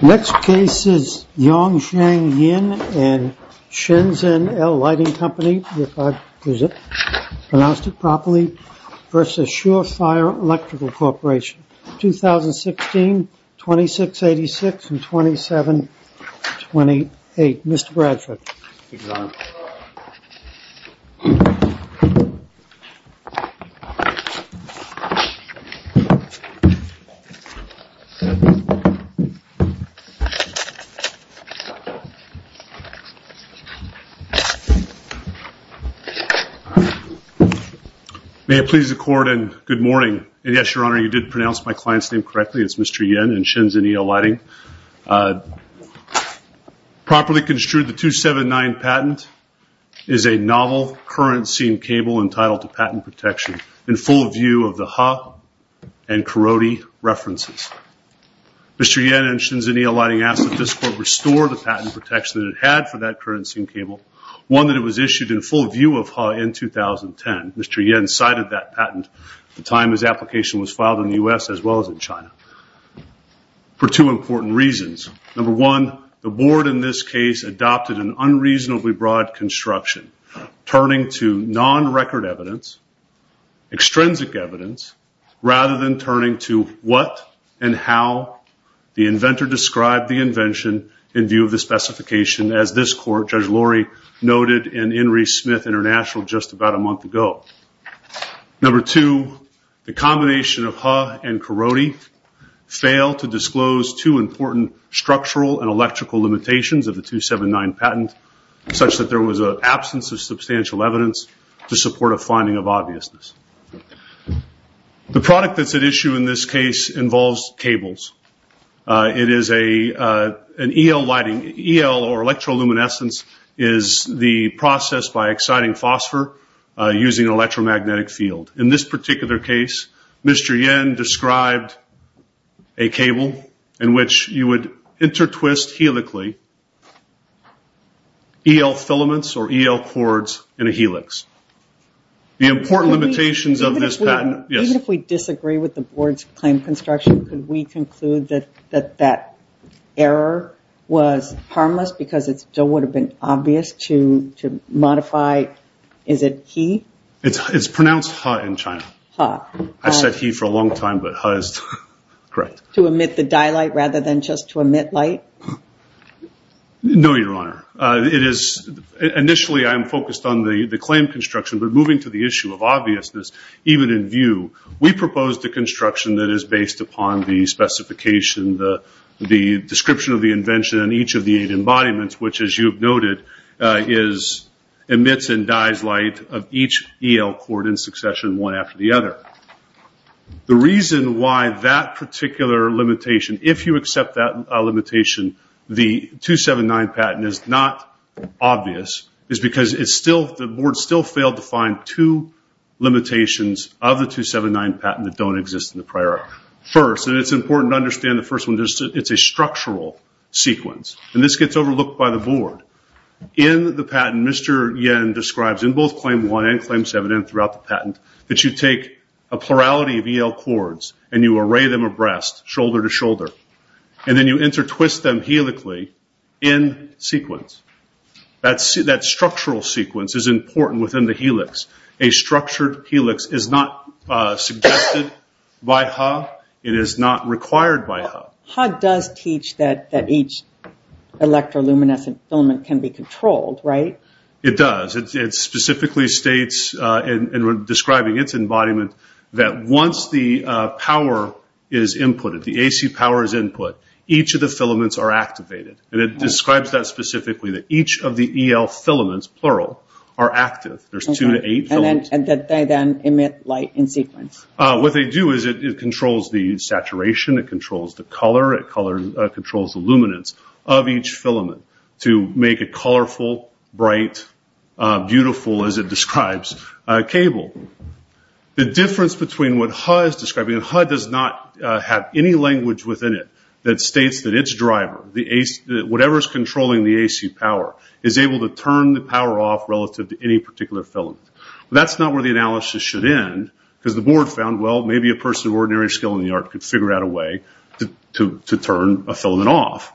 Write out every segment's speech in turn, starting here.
2016, 2686, and 2728. Mr. Bradford. May it please the court and good morning. And yes, your honor, you did pronounce my client's name correctly. It's Mr. Yin and Shenzhen El lighting. Properly construed the 279 patent is a novel currency cable entitled to patent protection in full view of the Ha and Karodi references. Mr. Yin and Shenzhen El lighting asked that this court restore the patent protection that it had for that currency cable. One that it was issued in full view of Ha in 2010. Mr. Yin cited that patent at the time his application was filed in the U.S. as well as in China. For two important reasons. Number one, the board in this case adopted an unreasonably broad construction. Turning to non-record evidence, extrinsic evidence, rather than turning to what and how the inventor described the invention in view of the specification as this court, Judge Lori, noted in Henry Smith International just about a month ago. Number two, the combination of Ha and Karodi failed to disclose two important structural and electrical limitations of the 279 patent such that there was an absence of substantial evidence to support a finding of obviousness. The product that's at issue in this case involves cables. It is an El lighting. El or electroluminescence is the process by exciting phosphor using an electromagnetic field. In this particular case, Mr. Yin described a cable in which you would intertwist helically El filaments or El cords in a helix. The important limitations of this patent. Even if we disagree with the board's claim construction, could we conclude that that error was harmless because it still would have been obvious to modify, is it He? It's pronounced Ha in China. I've said He for a long time, but Ha is correct. To emit the dye light rather than just to emit light? No, Your Honor. Initially, I am focused on the claim construction, but moving to the issue of obviousness, even in view, we proposed a construction that is based upon the specification, the description of the invention, and each of the eight embodiments, which as you have noted, emits and dyes light of each El cord in succession, one after the other. The reason why that particular limitation, if you accept that limitation, the 279 patent is not obvious, is because the board still failed to find two limitations of the 279 patent that don't exist in the prior. It's important to understand the first one. It's a structural sequence. This gets overlooked by the board. In the patent, Mr. Yen describes in both Claim 1 and Claim 7 and throughout the patent that you take a plurality of El cords and you array them abreast, shoulder to shoulder, and then you intertwist them helically in sequence. That structural sequence is important within the helix. A structured helix is not suggested by Ha. It is not required by Ha. Ha does teach that each electroluminescent filament can be controlled, right? It does. It specifically states, in describing its embodiment, that once the power is inputted, the AC power is input, each of the filaments are activated. It describes that specifically, that each of the El filaments, plural, are active. There's two to eight filaments. They then emit light in sequence. What they do is it controls the saturation, it controls the color, it controls the luminance of each filament to make a colorful, bright, beautiful, as it describes, cable. The difference between what Ha is describing, and Ha does not have any language within it that states that its driver, whatever is controlling the AC power, is able to turn the power off relative to any particular filament. That's not where the analysis should end because the board found, well, maybe a person of ordinary skill in the art could figure out a way to turn a filament off.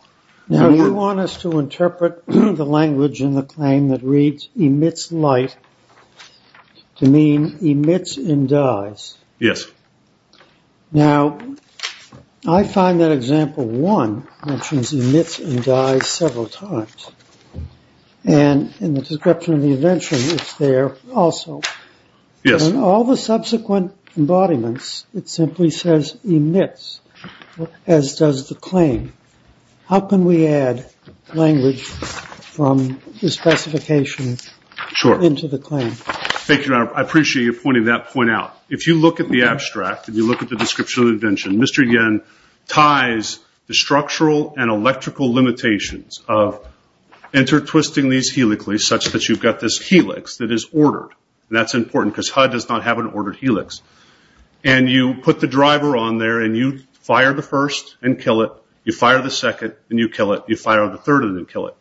Now, you want us to interpret the language in the claim that reads, emits light, to mean emits and dies. Yes. Now, I find that example one mentions emits and dies several times. In the description of the invention, it's there also. Yes. In all the subsequent embodiments, it simply says emits, as does the claim. How can we add language from the specification into the claim? Thank you, Your Honor. I appreciate you pointing that point out. If you look at the abstract and you look at the description of the invention, Mr. Yen ties the structural and electrical limitations of intertwisting these helically such that you've got this helix that is ordered. That's important because HUD does not have an ordered helix. You put the driver on there and you fire the first and kill it. You fire the second and you kill it. You fire the third and then kill it.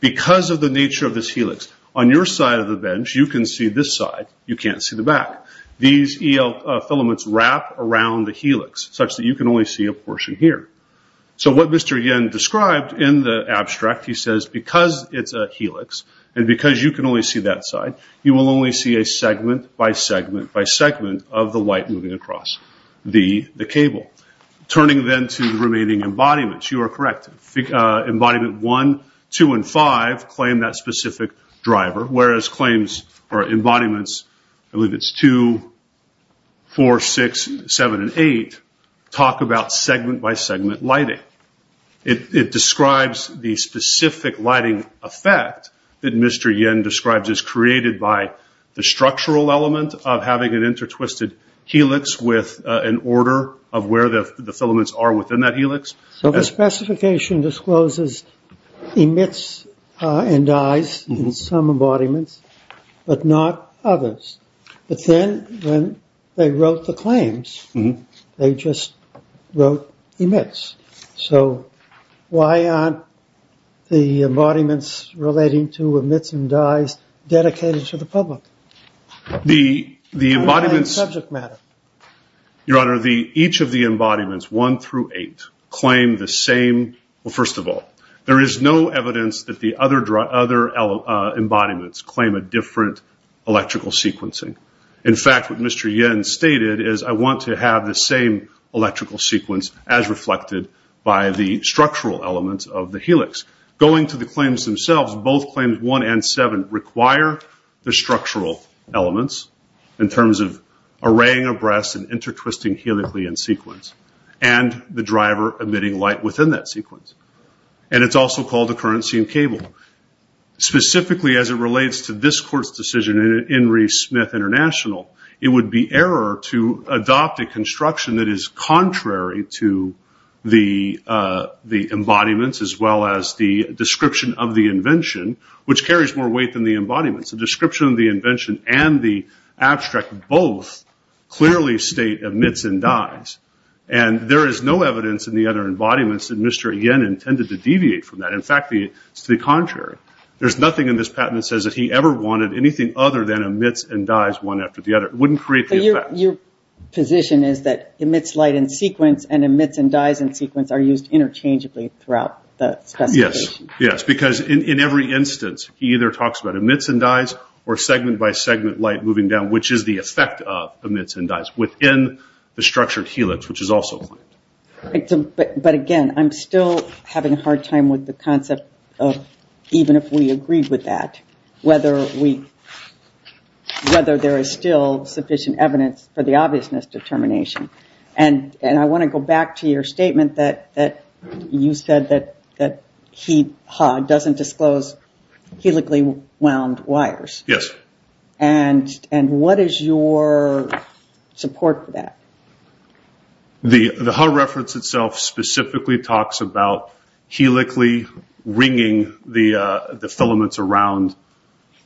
Because of the nature of this helix, on your side of the bench, you can see this side. You can't see the back. These EL filaments wrap around the helix such that you can only see a portion here. What Mr. Yen described in the abstract, he said, because you can only see that side, you will only see a segment by segment by segment of the light moving across the cable. Turning then to the remaining embodiments, you are correct. Embodiment 1, 2, and 5 claim that specific driver, whereas claims or embodiments, I believe it's 2, 4, 6, 7, and 8, talk about segment by segment lighting. It describes the specific lighting effect that Mr. Yen describes as created by the structural element of having an intertwisted helix with an order of where the filaments are within that helix. The specification discloses emits and dies in some embodiments but not others. But then when they wrote the claims, they just wrote emits. So why aren't the embodiments relating to emits and dies dedicated to the public? The embodiments... Subject matter. Your Honor, each of the embodiments, 1 through 8, claim the same... First of all, there is no evidence that the other embodiments claim a different electrical sequencing. In fact, what Mr. Yen stated is, I want to have the same electrical sequence as reflected by the structural elements of the helix. Going to the claims themselves, both claims 1 and 7 require the structural elements in terms of arraying abreast and intertwisting helically in sequence and the driver emitting light within that sequence. It's also called a currency and cable. Specifically as it relates to this Court's decision in Henry Smith International, it would be error to adopt a construction that is contrary to the embodiments as well as the description of the invention, which carries more weight than the embodiments. The description of the invention and the abstract both clearly state emits and dies. There is no evidence in the other embodiments that Mr. Yen intended to deviate from that. In fact, it's the contrary. There's nothing in this patent that says that he ever wanted anything other than emits and dies one after the other. It wouldn't create the effect. Your position is that emits light in sequence and emits and dies in sequence are used interchangeably throughout the specification? Yes. Because in every instance, he either talks about emits and dies or segment by segment light moving down, which is the effect of emits and dies within the structured helix, which is also claimed. But again, I'm still having a hard time with the concept of even if we agreed with that, whether there is still sufficient evidence for the obviousness determination. And I want to go back to your statement that you said that he doesn't disclose helically wound wires. Yes. And what is your support for that? The HAW reference itself specifically talks about helically wringing the filaments around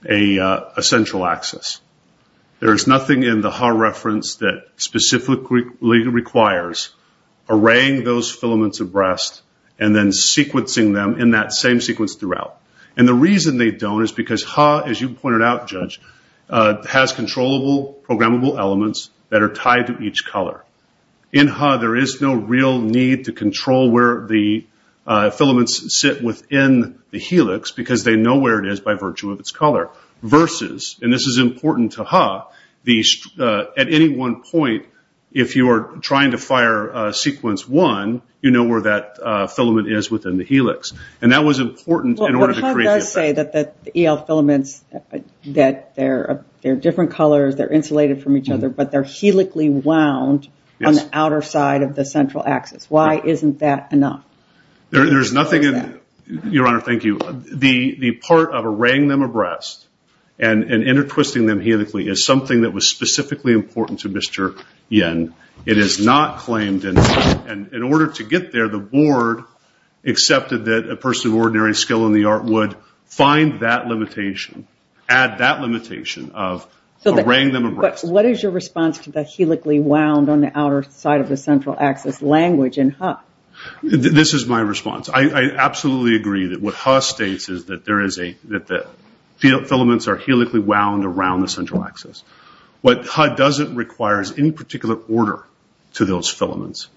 a central axis. There is nothing in the HAW reference that specifically requires arraying those filaments abreast and then sequencing them in that same sequence throughout. And the reason they don't is because HAW, as you pointed out, Judge, has controllable, programmable elements that are tied to each color. In HAW, there is no real need to control where the filaments sit within the helix because they know where it is by virtue of its color. Versus, and this is important to HAW, at any one point, if you are trying to fire sequence one, you know where that filament is within the helix. And that was important in order to create the effect. You say that the EL filaments, that they are different colors, they are insulated from each other, but they are helically wound on the outer side of the central axis. Why isn't that enough? There is nothing, Your Honor, thank you. The part of arraying them abreast and intertwisting them helically is something that was specifically important to Mr. Yen. It is not claimed. In order to get there, the board accepted that a person of ordinary skill in the art would find that limitation, add that limitation of arraying them abreast. What is your response to the helically wound on the outer side of the central axis language in HAW? This is my response. I absolutely agree that what HAW states is that the filaments are helically wound around the central axis. What HAW doesn't require is any particular order to those filaments.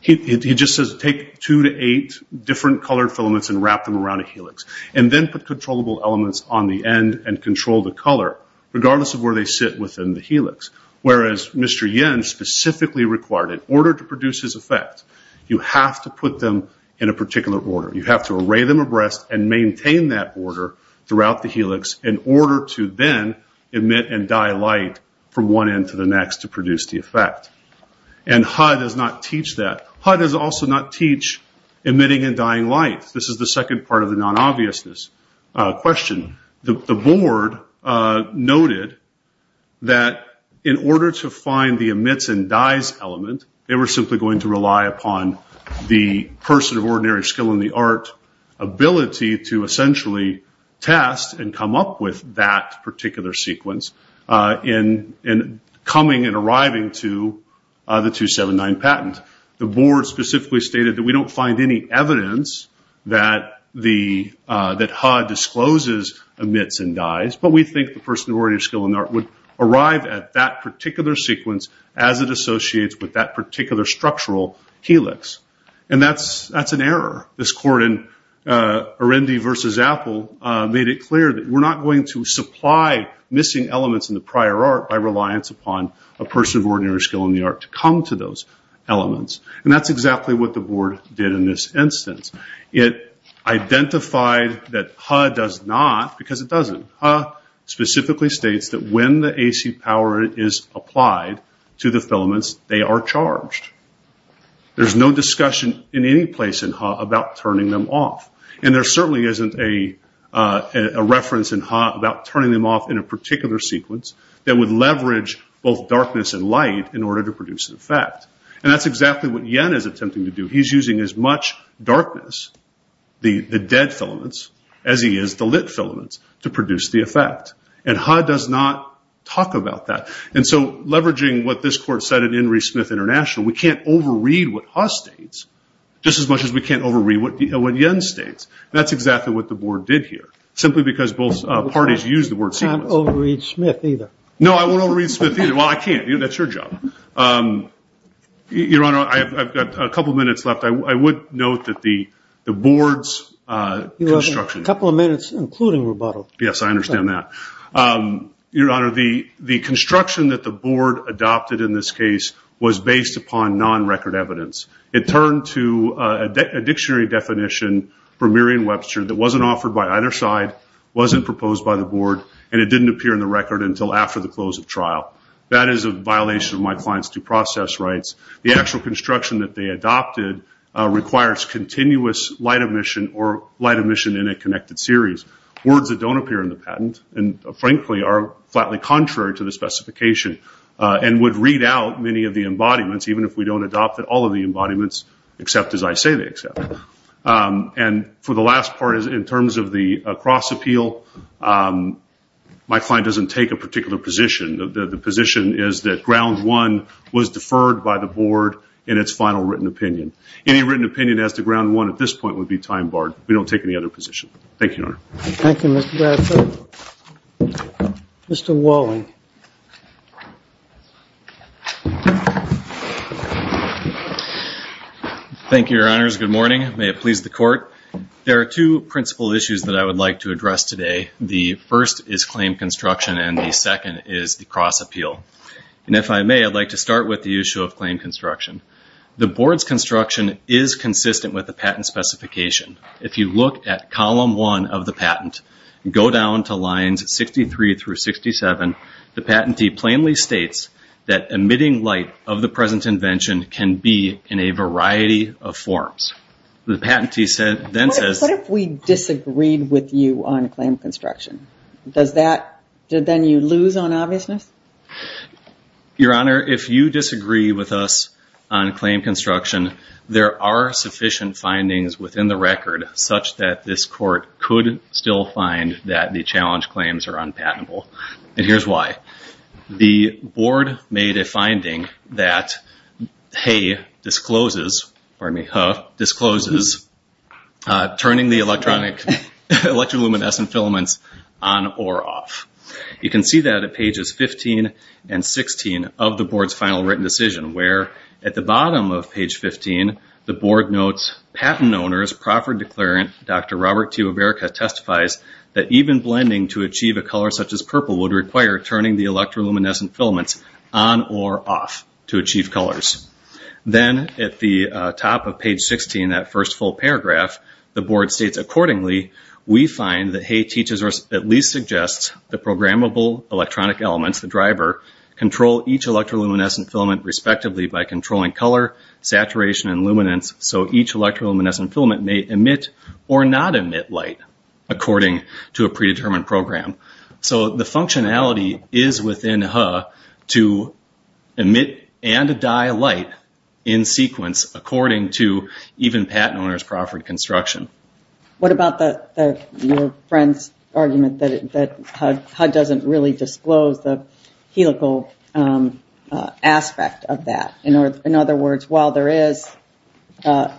He just says take two to eight different colored filaments and wrap them around a helix. And then put controllable elements on the end and control the color regardless of where they sit within the helix. Whereas Mr. Yen specifically required in order to produce his effect, you have to put them in a particular order. You have to array them abreast and maintain that order throughout the helix in order to then emit and dye light from one end to the next to produce the effect. And HAW does not teach that. HAW does also not teach emitting and dyeing light. This is the second part of the non-obviousness question. The board noted that in order to find the emits and dyes element, they were simply going to rely upon the person of ordinary skill in the art ability to essentially test and coming and arriving to the 279 patent. The board specifically stated that we don't find any evidence that HAW discloses emits and dyes, but we think the person of ordinary skill in the art would arrive at that particular sequence as it associates with that particular structural helix. And that's an error. This court in Arendi versus Apple made it clear that we're not going to supply missing elements in the prior art by reliance upon a person of ordinary skill in the art to come to those elements. And that's exactly what the board did in this instance. It identified that HAW does not, because it doesn't. HAW specifically states that when the AC power is applied to the filaments, they are charged. There's no reference in HAW about turning them off in a particular sequence that would leverage both darkness and light in order to produce an effect. And that's exactly what Yen is attempting to do. He's using as much darkness, the dead filaments, as he is the lit filaments to produce the effect. And HAW does not talk about that. And so leveraging what this court said in Henry Smith International, we can't overread what HAW states just as much as we can't overread what Yen states. That's exactly what the board did here, simply because both parties used the word sequence. You can't overread Smith either. No, I won't overread Smith either. Well, I can't. That's your job. Your Honor, I've got a couple of minutes left. I would note that the board's construction. You have a couple of minutes, including rebuttal. Yes, I understand that. Your Honor, the construction that the board adopted in this case was based upon non-record evidence. It turned to a dictionary definition for Merriam-Webster that wasn't offered by either side, wasn't proposed by the board, and it didn't appear in the record until after the close of trial. That is a violation of my client's due process rights. The actual construction that they adopted requires continuous light emission or light emission in a connected series. Words that don't appear in the patent and, frankly, are flatly contrary to the specification and would read out many of the embodiments, even if we don't adopt all of the embodiments, except as I say they accept. For the last part, in terms of the cross-appeal, my client doesn't take a particular position. The position is that ground one was deferred by the board in its final written opinion. Any written opinion as to ground one at this point would be time-barred. We don't take any other position. Thank you, Your Honor. Thank you, Mr. Bradford. Mr. Walling. Thank you, Your Honors. Good morning. May it please the Court. There are two principal issues that I would like to address today. The first is claim construction and the second is the cross-appeal. And if I may, I'd like to start with the issue of claim construction. The board's construction is consistent with the patent specification. If you look at column one of the patent, go down to lines 63 through 67, the patentee plainly states that emitting light of the present invention can be in a variety of forms. The patentee then says... What if we disagreed with you on claim construction? Does that, then you lose on obviousness? Your Honor, if you disagree with us on claim construction, there are sufficient findings within the record such that this Court could still find that the challenge claims are unpatentable. And here's why. The board made a finding that Hay discloses, turning the electroluminescent filaments on or off. You can see that at pages 15 and 16 of the board's final written decision, where at the bottom of page 15, the board notes patent owners, Profford Declarant, Dr. Robert T. Weberka testifies that even blending to achieve a color such as purple would require turning the electroluminescent filaments on or off to achieve colors. Then at the top of page 16, that first full paragraph, the board states accordingly, we find that Hay teaches or at least suggests the programmable electronic elements, the driver, control each electroluminescent filament respectively by controlling color, saturation, and luminance. So each electroluminescent filament may emit or not emit light according to a predetermined program. So the functionality is within Hay to emit and dye light in sequence according to even patent owners' Profford construction. What about your friend's argument that Hay doesn't really disclose the helical elements aspect of that? In other words, while there is a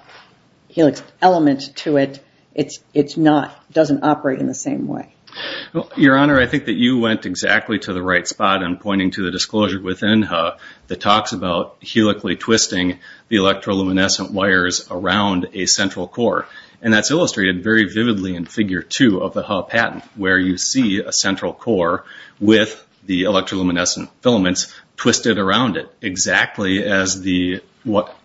helix element to it, it doesn't operate in the same way. Your Honor, I think that you went exactly to the right spot in pointing to the disclosure within Hay that talks about helically twisting the electroluminescent wires around a central core. That's illustrated very vividly in figure two of the Hay patent, where you see a central core with the electroluminescent filaments twisted around it, exactly as the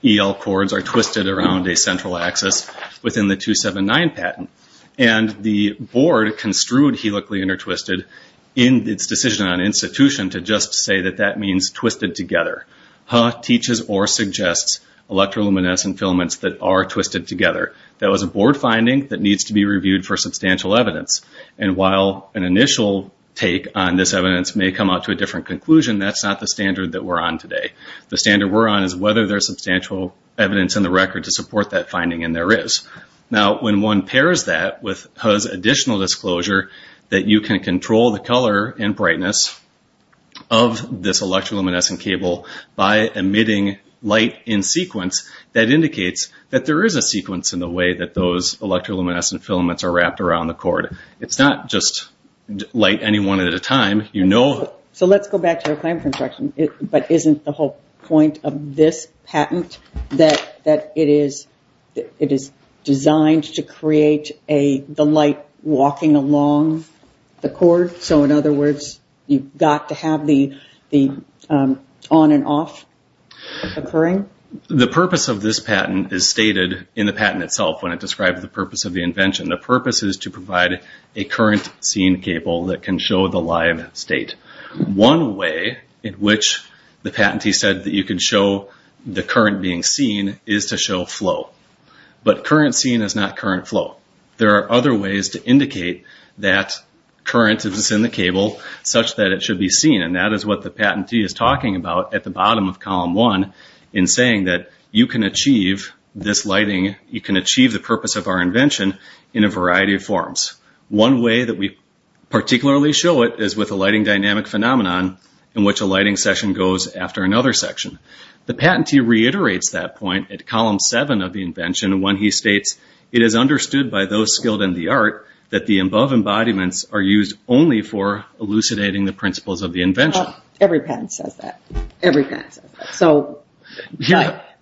EL cords are twisted around a central axis within the 279 patent. And the board construed helically intertwisted in its decision on institution to just say that that means twisted together. Hay teaches or suggests electroluminescent filaments that are twisted together. That was a board finding that needs to be reviewed for substantial evidence. And while an initial take on this evidence may come out to a different conclusion, that's not the standard that we're on today. The standard we're on is whether there's substantial evidence in the record to support that finding, and there is. Now, when one pairs that with Hay's additional disclosure that you can control the color and brightness of this electroluminescent cable by emitting light in sequence, that indicates that there is a sequence in the way that those electroluminescent filaments are wrapped around the cord. It's not just light any one at a time. You know... So let's go back to the clamp construction. But isn't the whole point of this patent that it is designed to create the light walking along the cord? So in other words, you've got to have the on and off occurring? The purpose of this patent is stated in the patent itself when it describes the purpose of the invention. The purpose is to provide a current scene cable that can show the live state. One way in which the patentee said that you could show the current being seen is to show flow. But current scene is not current flow. There are other ways to indicate that current is in the cable such that it should be seen, and that is what the patentee is talking about at the bottom of column one in saying that you can achieve this lighting, you can achieve the purpose of our invention in a variety of forms. One way that we particularly show it is with a lighting dynamic phenomenon in which a lighting session goes after another section. The patentee reiterates that point at column seven of the invention when he states, it is understood by those skilled in the art that the above embodiments are used only for elucidating the principles of the invention. Every patent says that.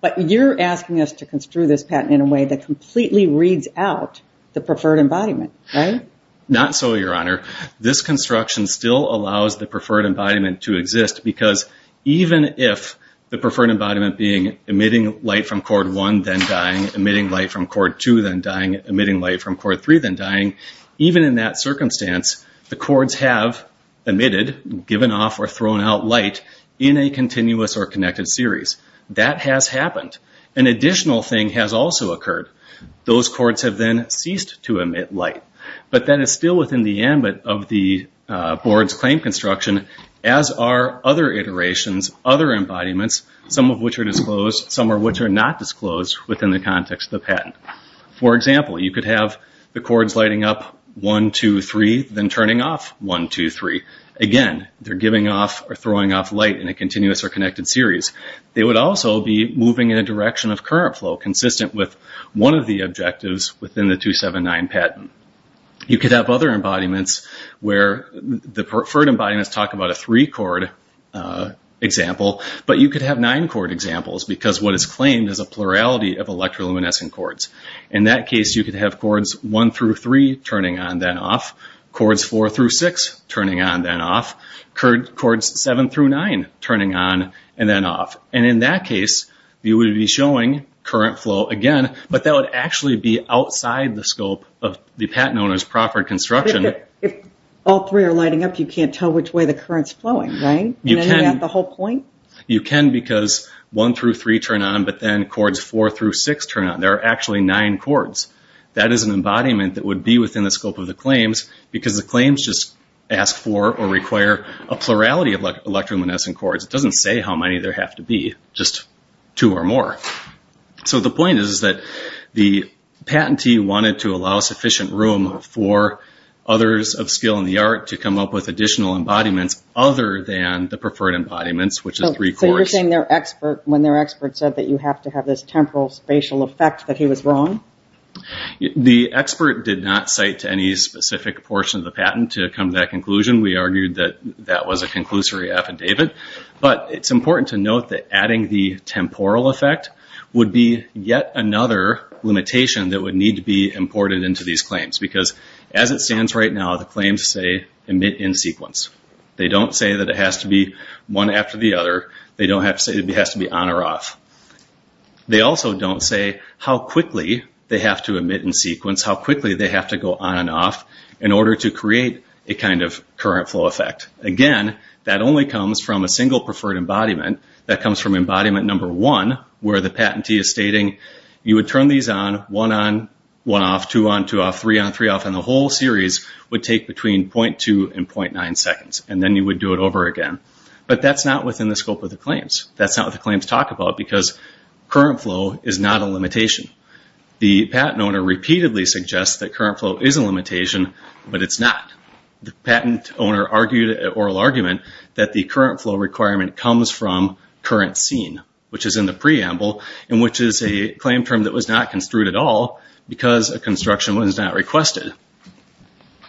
But you are asking us to construe this patent in a way that completely reads out the preferred embodiment, right? Not so, Your Honor. This construction still allows the preferred embodiment to exist because even if the preferred embodiment being emitting light from cord one then dying, emitting light from cord two then dying, emitting light from cord three then dying, even in that circumstance, the cords have emitted, given off or thrown out light in a continuous or connected series. That has happened. An additional thing has also occurred. Those cords have then ceased to emit light. But that is still within the ambit of the board's claim construction as are other iterations, other embodiments, some of which are disclosed, some of which are not. For example, you could have the cords lighting up one, two, three, then turning off one, two, three. Again, they're giving off or throwing off light in a continuous or connected series. They would also be moving in a direction of current flow consistent with one of the objectives within the 279 patent. You could have other embodiments where the preferred embodiments talk about a three cord example, but you could have nine cord examples because what is claimed is a plurality of electroluminescent cords. In that case, you could have cords one through three turning on then off, cords four through six turning on then off, cords seven through nine turning on and then off. In that case, you would be showing current flow again, but that would actually be outside the scope of the patent owner's proffered construction. If all three are lighting up, you can't tell which way the current's flowing, right? You can. And then you got the whole point? You can because one through three turn on, but then cords four through six turn on. There are actually nine cords. That is an embodiment that would be within the scope of the claims because the claims just ask for or require a plurality of electroluminescent cords. It doesn't say how many there have to be, just two or more. So the point is that the patentee wanted to allow sufficient room for others of skill in the art to come up with additional embodiments other than the preferred embodiments, which is three cords. So you're saying when their expert said that you have to have this temporal spatial effect that he was wrong? The expert did not cite to any specific portion of the patent to come to that conclusion. We argued that that was a conclusory affidavit, but it's important to note that adding the temporal effect would be yet another limitation that would need to be imported into these claims because as it stands right now, the claims say emit in sequence. They don't say that it has to be one after the other. They don't say it has to be on or off. They also don't say how quickly they have to emit in sequence, how quickly they have to go on and off in order to create a kind of current flow effect. Again, that only comes from a single preferred embodiment. That comes from embodiment number one, where the patentee is stating you would turn these on, one on, one off, two on, two off, three on, three off, and the whole series would take between .2 and .9 seconds, and then you would do it over again, but that's not within the scope of the claims. That's not what the claims talk about because current flow is not a limitation. The patent owner repeatedly suggests that current flow is a limitation, but it's not. The patent owner argued an oral argument that the current flow requirement comes from current scene, which is in the preamble, and which is a claim term that was not construed at all because a construction was not requested,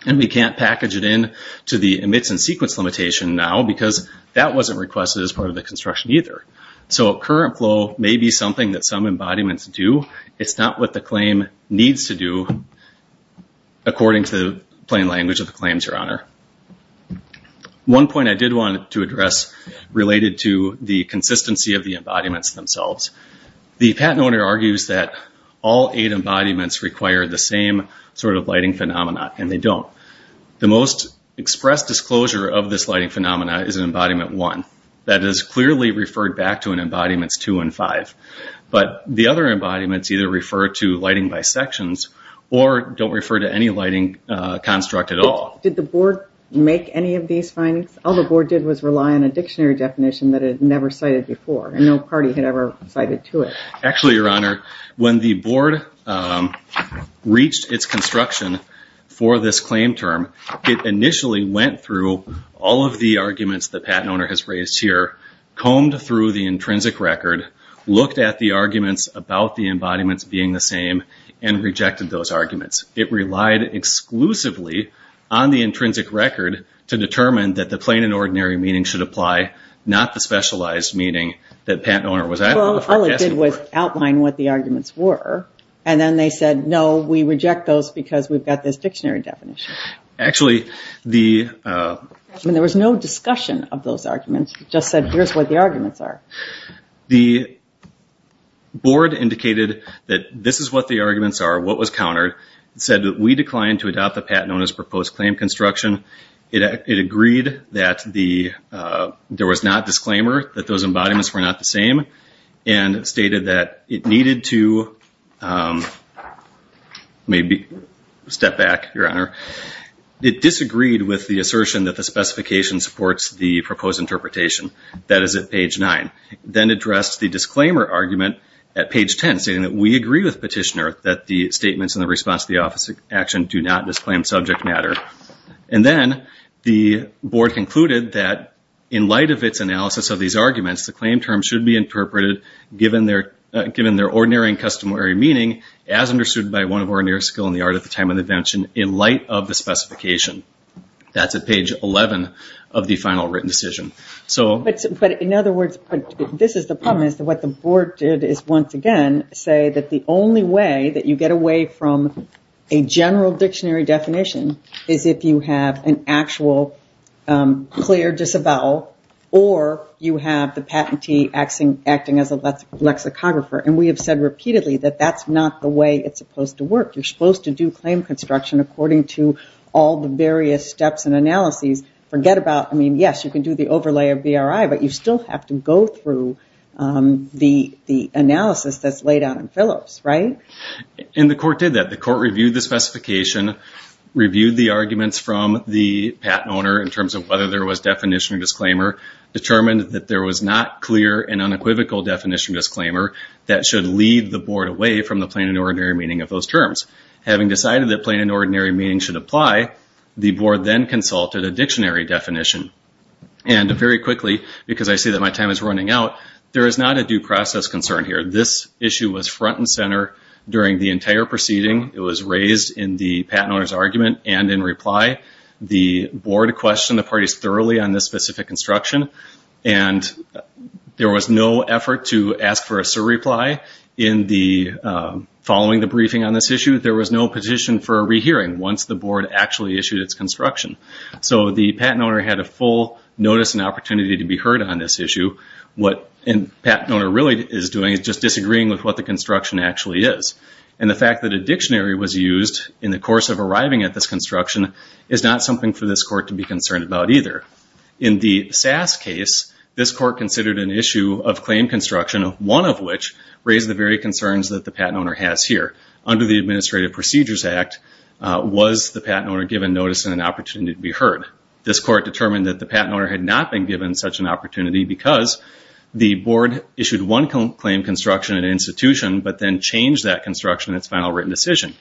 and we can't package it in to the emits and sequence limitation now because that wasn't requested as part of the construction either. So current flow may be something that some embodiments do. It's not what the claim needs to do according to the plain language of the claims, Your Honor. One point I did want to address related to the consistency of the embodiments themselves. The patent owner argues that all eight embodiments require the same sort of lighting phenomena, and they don't. The most expressed disclosure of this lighting phenomena is in Embodiment 1. That is clearly referred back to in Embodiments 2 and 5, but the other embodiments either refer to lighting bisections or don't refer to any lighting construct at all. Did the board make any of these findings? All the board did was rely on a dictionary definition that it had never cited before, and no party had ever cited to it. Actually, Your Honor, when the board reached its construction for this claim term, it initially went through all of the arguments the patent owner has raised here, combed through the intrinsic record, looked at the arguments about the embodiments being the same, and rejected those arguments. It relied exclusively on the intrinsic record to determine that the plain and ordinary meaning should apply, not the specialized meaning that the patent owner was asking for. All it did was outline what the arguments were, and then they said, no, we reject those because we've got this dictionary definition. Actually, the... There was no discussion of those arguments. It just said, here's what the arguments are. The board indicated that this is what the arguments are, what was countered. It said that we declined to adopt the patent owner's proposed claim construction. It agreed that there was not disclaimer, that those embodiments were not the same, and stated that it needed to maybe step back, Your Honor. It disagreed with the assertion that the specification supports the proposed interpretation. That is at page nine. Then addressed the disclaimer argument at page 10, saying that we agree with Petitioner that the statements and the response to the office of action do not disclaim subject matter. Then the board concluded that in light of its analysis of these arguments, the claim term should be interpreted given their ordinary and customary meaning, as understood by one of ordinary skill in the art of the time of invention, in light of the specification. That's at page 11 of the final written decision. In other words, this is the problem is that what the board did is once again say that the only way that you get away from a general dictionary definition is if you have an actual clear disavowal, or you have the patentee acting as a lexicographer. We have said repeatedly that that's not the way it's supposed to work. You're supposed to do claim construction according to all the various steps and analyses. Forget about, I mean, yes, you can do the overlay of BRI, but you still have to go through the analysis that's laid out in Phillips, right? The court did that. The court reviewed the specification, reviewed the arguments from the patent owner in terms of whether there was definition or disclaimer, determined that there was not clear and unequivocal definition or disclaimer that should lead the board away from the plain and ordinary meaning of those terms. Having decided that plain and ordinary meaning should apply, the board then consulted a dictionary definition. Very quickly, because I see that my time is running out, there is not a due process concern here. This issue was front and center during the entire proceeding. It was raised in the patent owner's argument and in reply. The board questioned the parties thoroughly on this specific instruction. There was no effort to ask for a surreply following the briefing on this issue. There was no petition for a rehearing once the board actually issued its construction. So the patent owner had a full notice and opportunity to be heard on this issue. What a patent owner really is doing is just disagreeing with what the construction actually is. And the fact that a dictionary was used in the course of arriving at this construction is not something for this court to be concerned about either. In the SAS case, this court considered an issue of claim construction, one of which raised the very concerns that the patent owner has here. Under the Administrative Procedures Act, was the patent owner given notice and an opportunity to be heard? This court determined that the patent owner had not been given such an opportunity because the board issued one claim construction at an institution, but then changed that construction in its final written decision.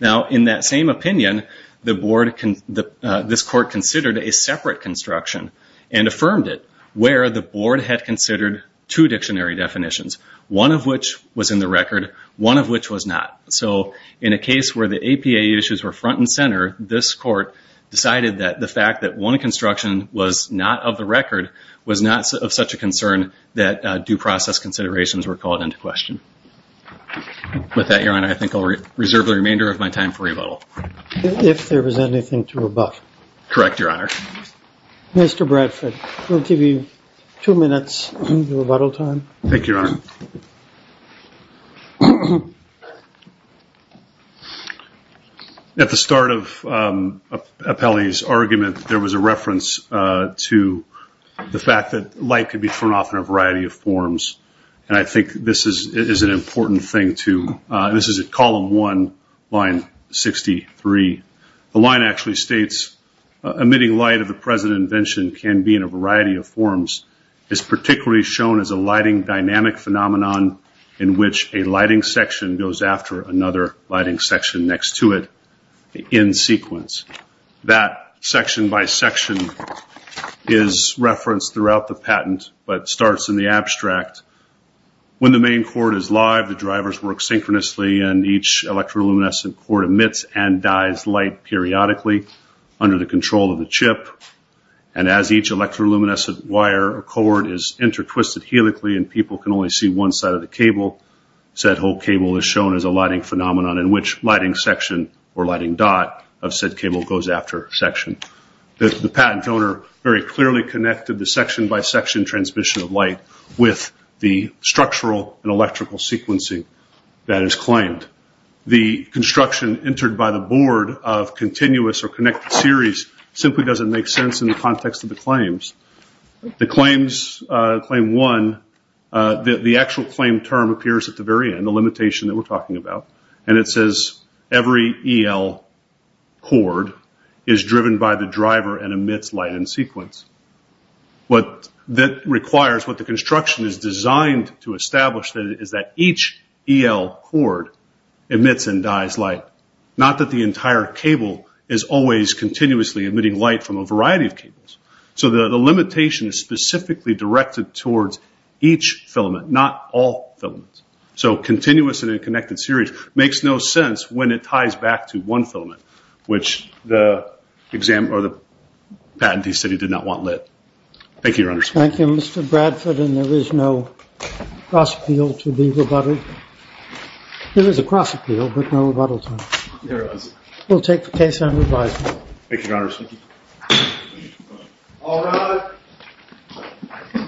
Now, in that same opinion, this court considered a separate construction and affirmed it where the board had considered two dictionary definitions, one of which was in the record, one of which was not. So in a case where the APA issues were front and center, this court decided that the fact that one construction was not of the record was not of such a concern that due process considerations were called into question. With that, Your Honor, I think I'll reserve the remainder of my time for rebuttal. If there was anything to rebut. Correct, Your Honor. Mr. Bradford, we'll give you two minutes of rebuttal time. Thank you, Your Honor. At the start of Appelli's argument, there was a reference to the fact that light could be turned off in a variety of forms, and I think this is an important thing, too. This is at column one, line 63. The line actually states, emitting light of the present invention can be in a variety of forms. It's particularly shown as a lighting dynamic phenomenon in which a lighting section goes after another lighting section next to it in sequence. That section by section is referenced throughout the patent, but starts in the abstract. When the main cord is live, the drivers work synchronously and each electroluminescent cord emits and dies light periodically under the control of the chip. As each electroluminescent wire cord is intertwisted helically and people can only see one side of the cable, said whole cable is shown as a lighting phenomenon in which lighting section or lighting dot of said cable goes after section. The patent owner very clearly connected the section by an electrical sequencing that is claimed. The construction entered by the board of continuous or connected series simply doesn't make sense in the context of the claims. The claims, claim one, the actual claim term appears at the very end, the limitation that we're talking about, and it says every EL cord is driven by the driver and emits light in sequence. What that requires, what the construction is designed to establish is that each EL cord emits and dies light. Not that the entire cable is always continuously emitting light from a variety of cables. The limitation is specifically directed towards each filament, not all filaments. Continuous and a connected series makes no sense when it ties back to one filament, which the patent he said he did not want lit. Thank you, Your Honor. Thank you, Mr. Bradford, and there is no cross appeal to be rebutted. There is a cross appeal, but no rebuttal time. There is. We'll take the case on revise. Thank you, Your Honor.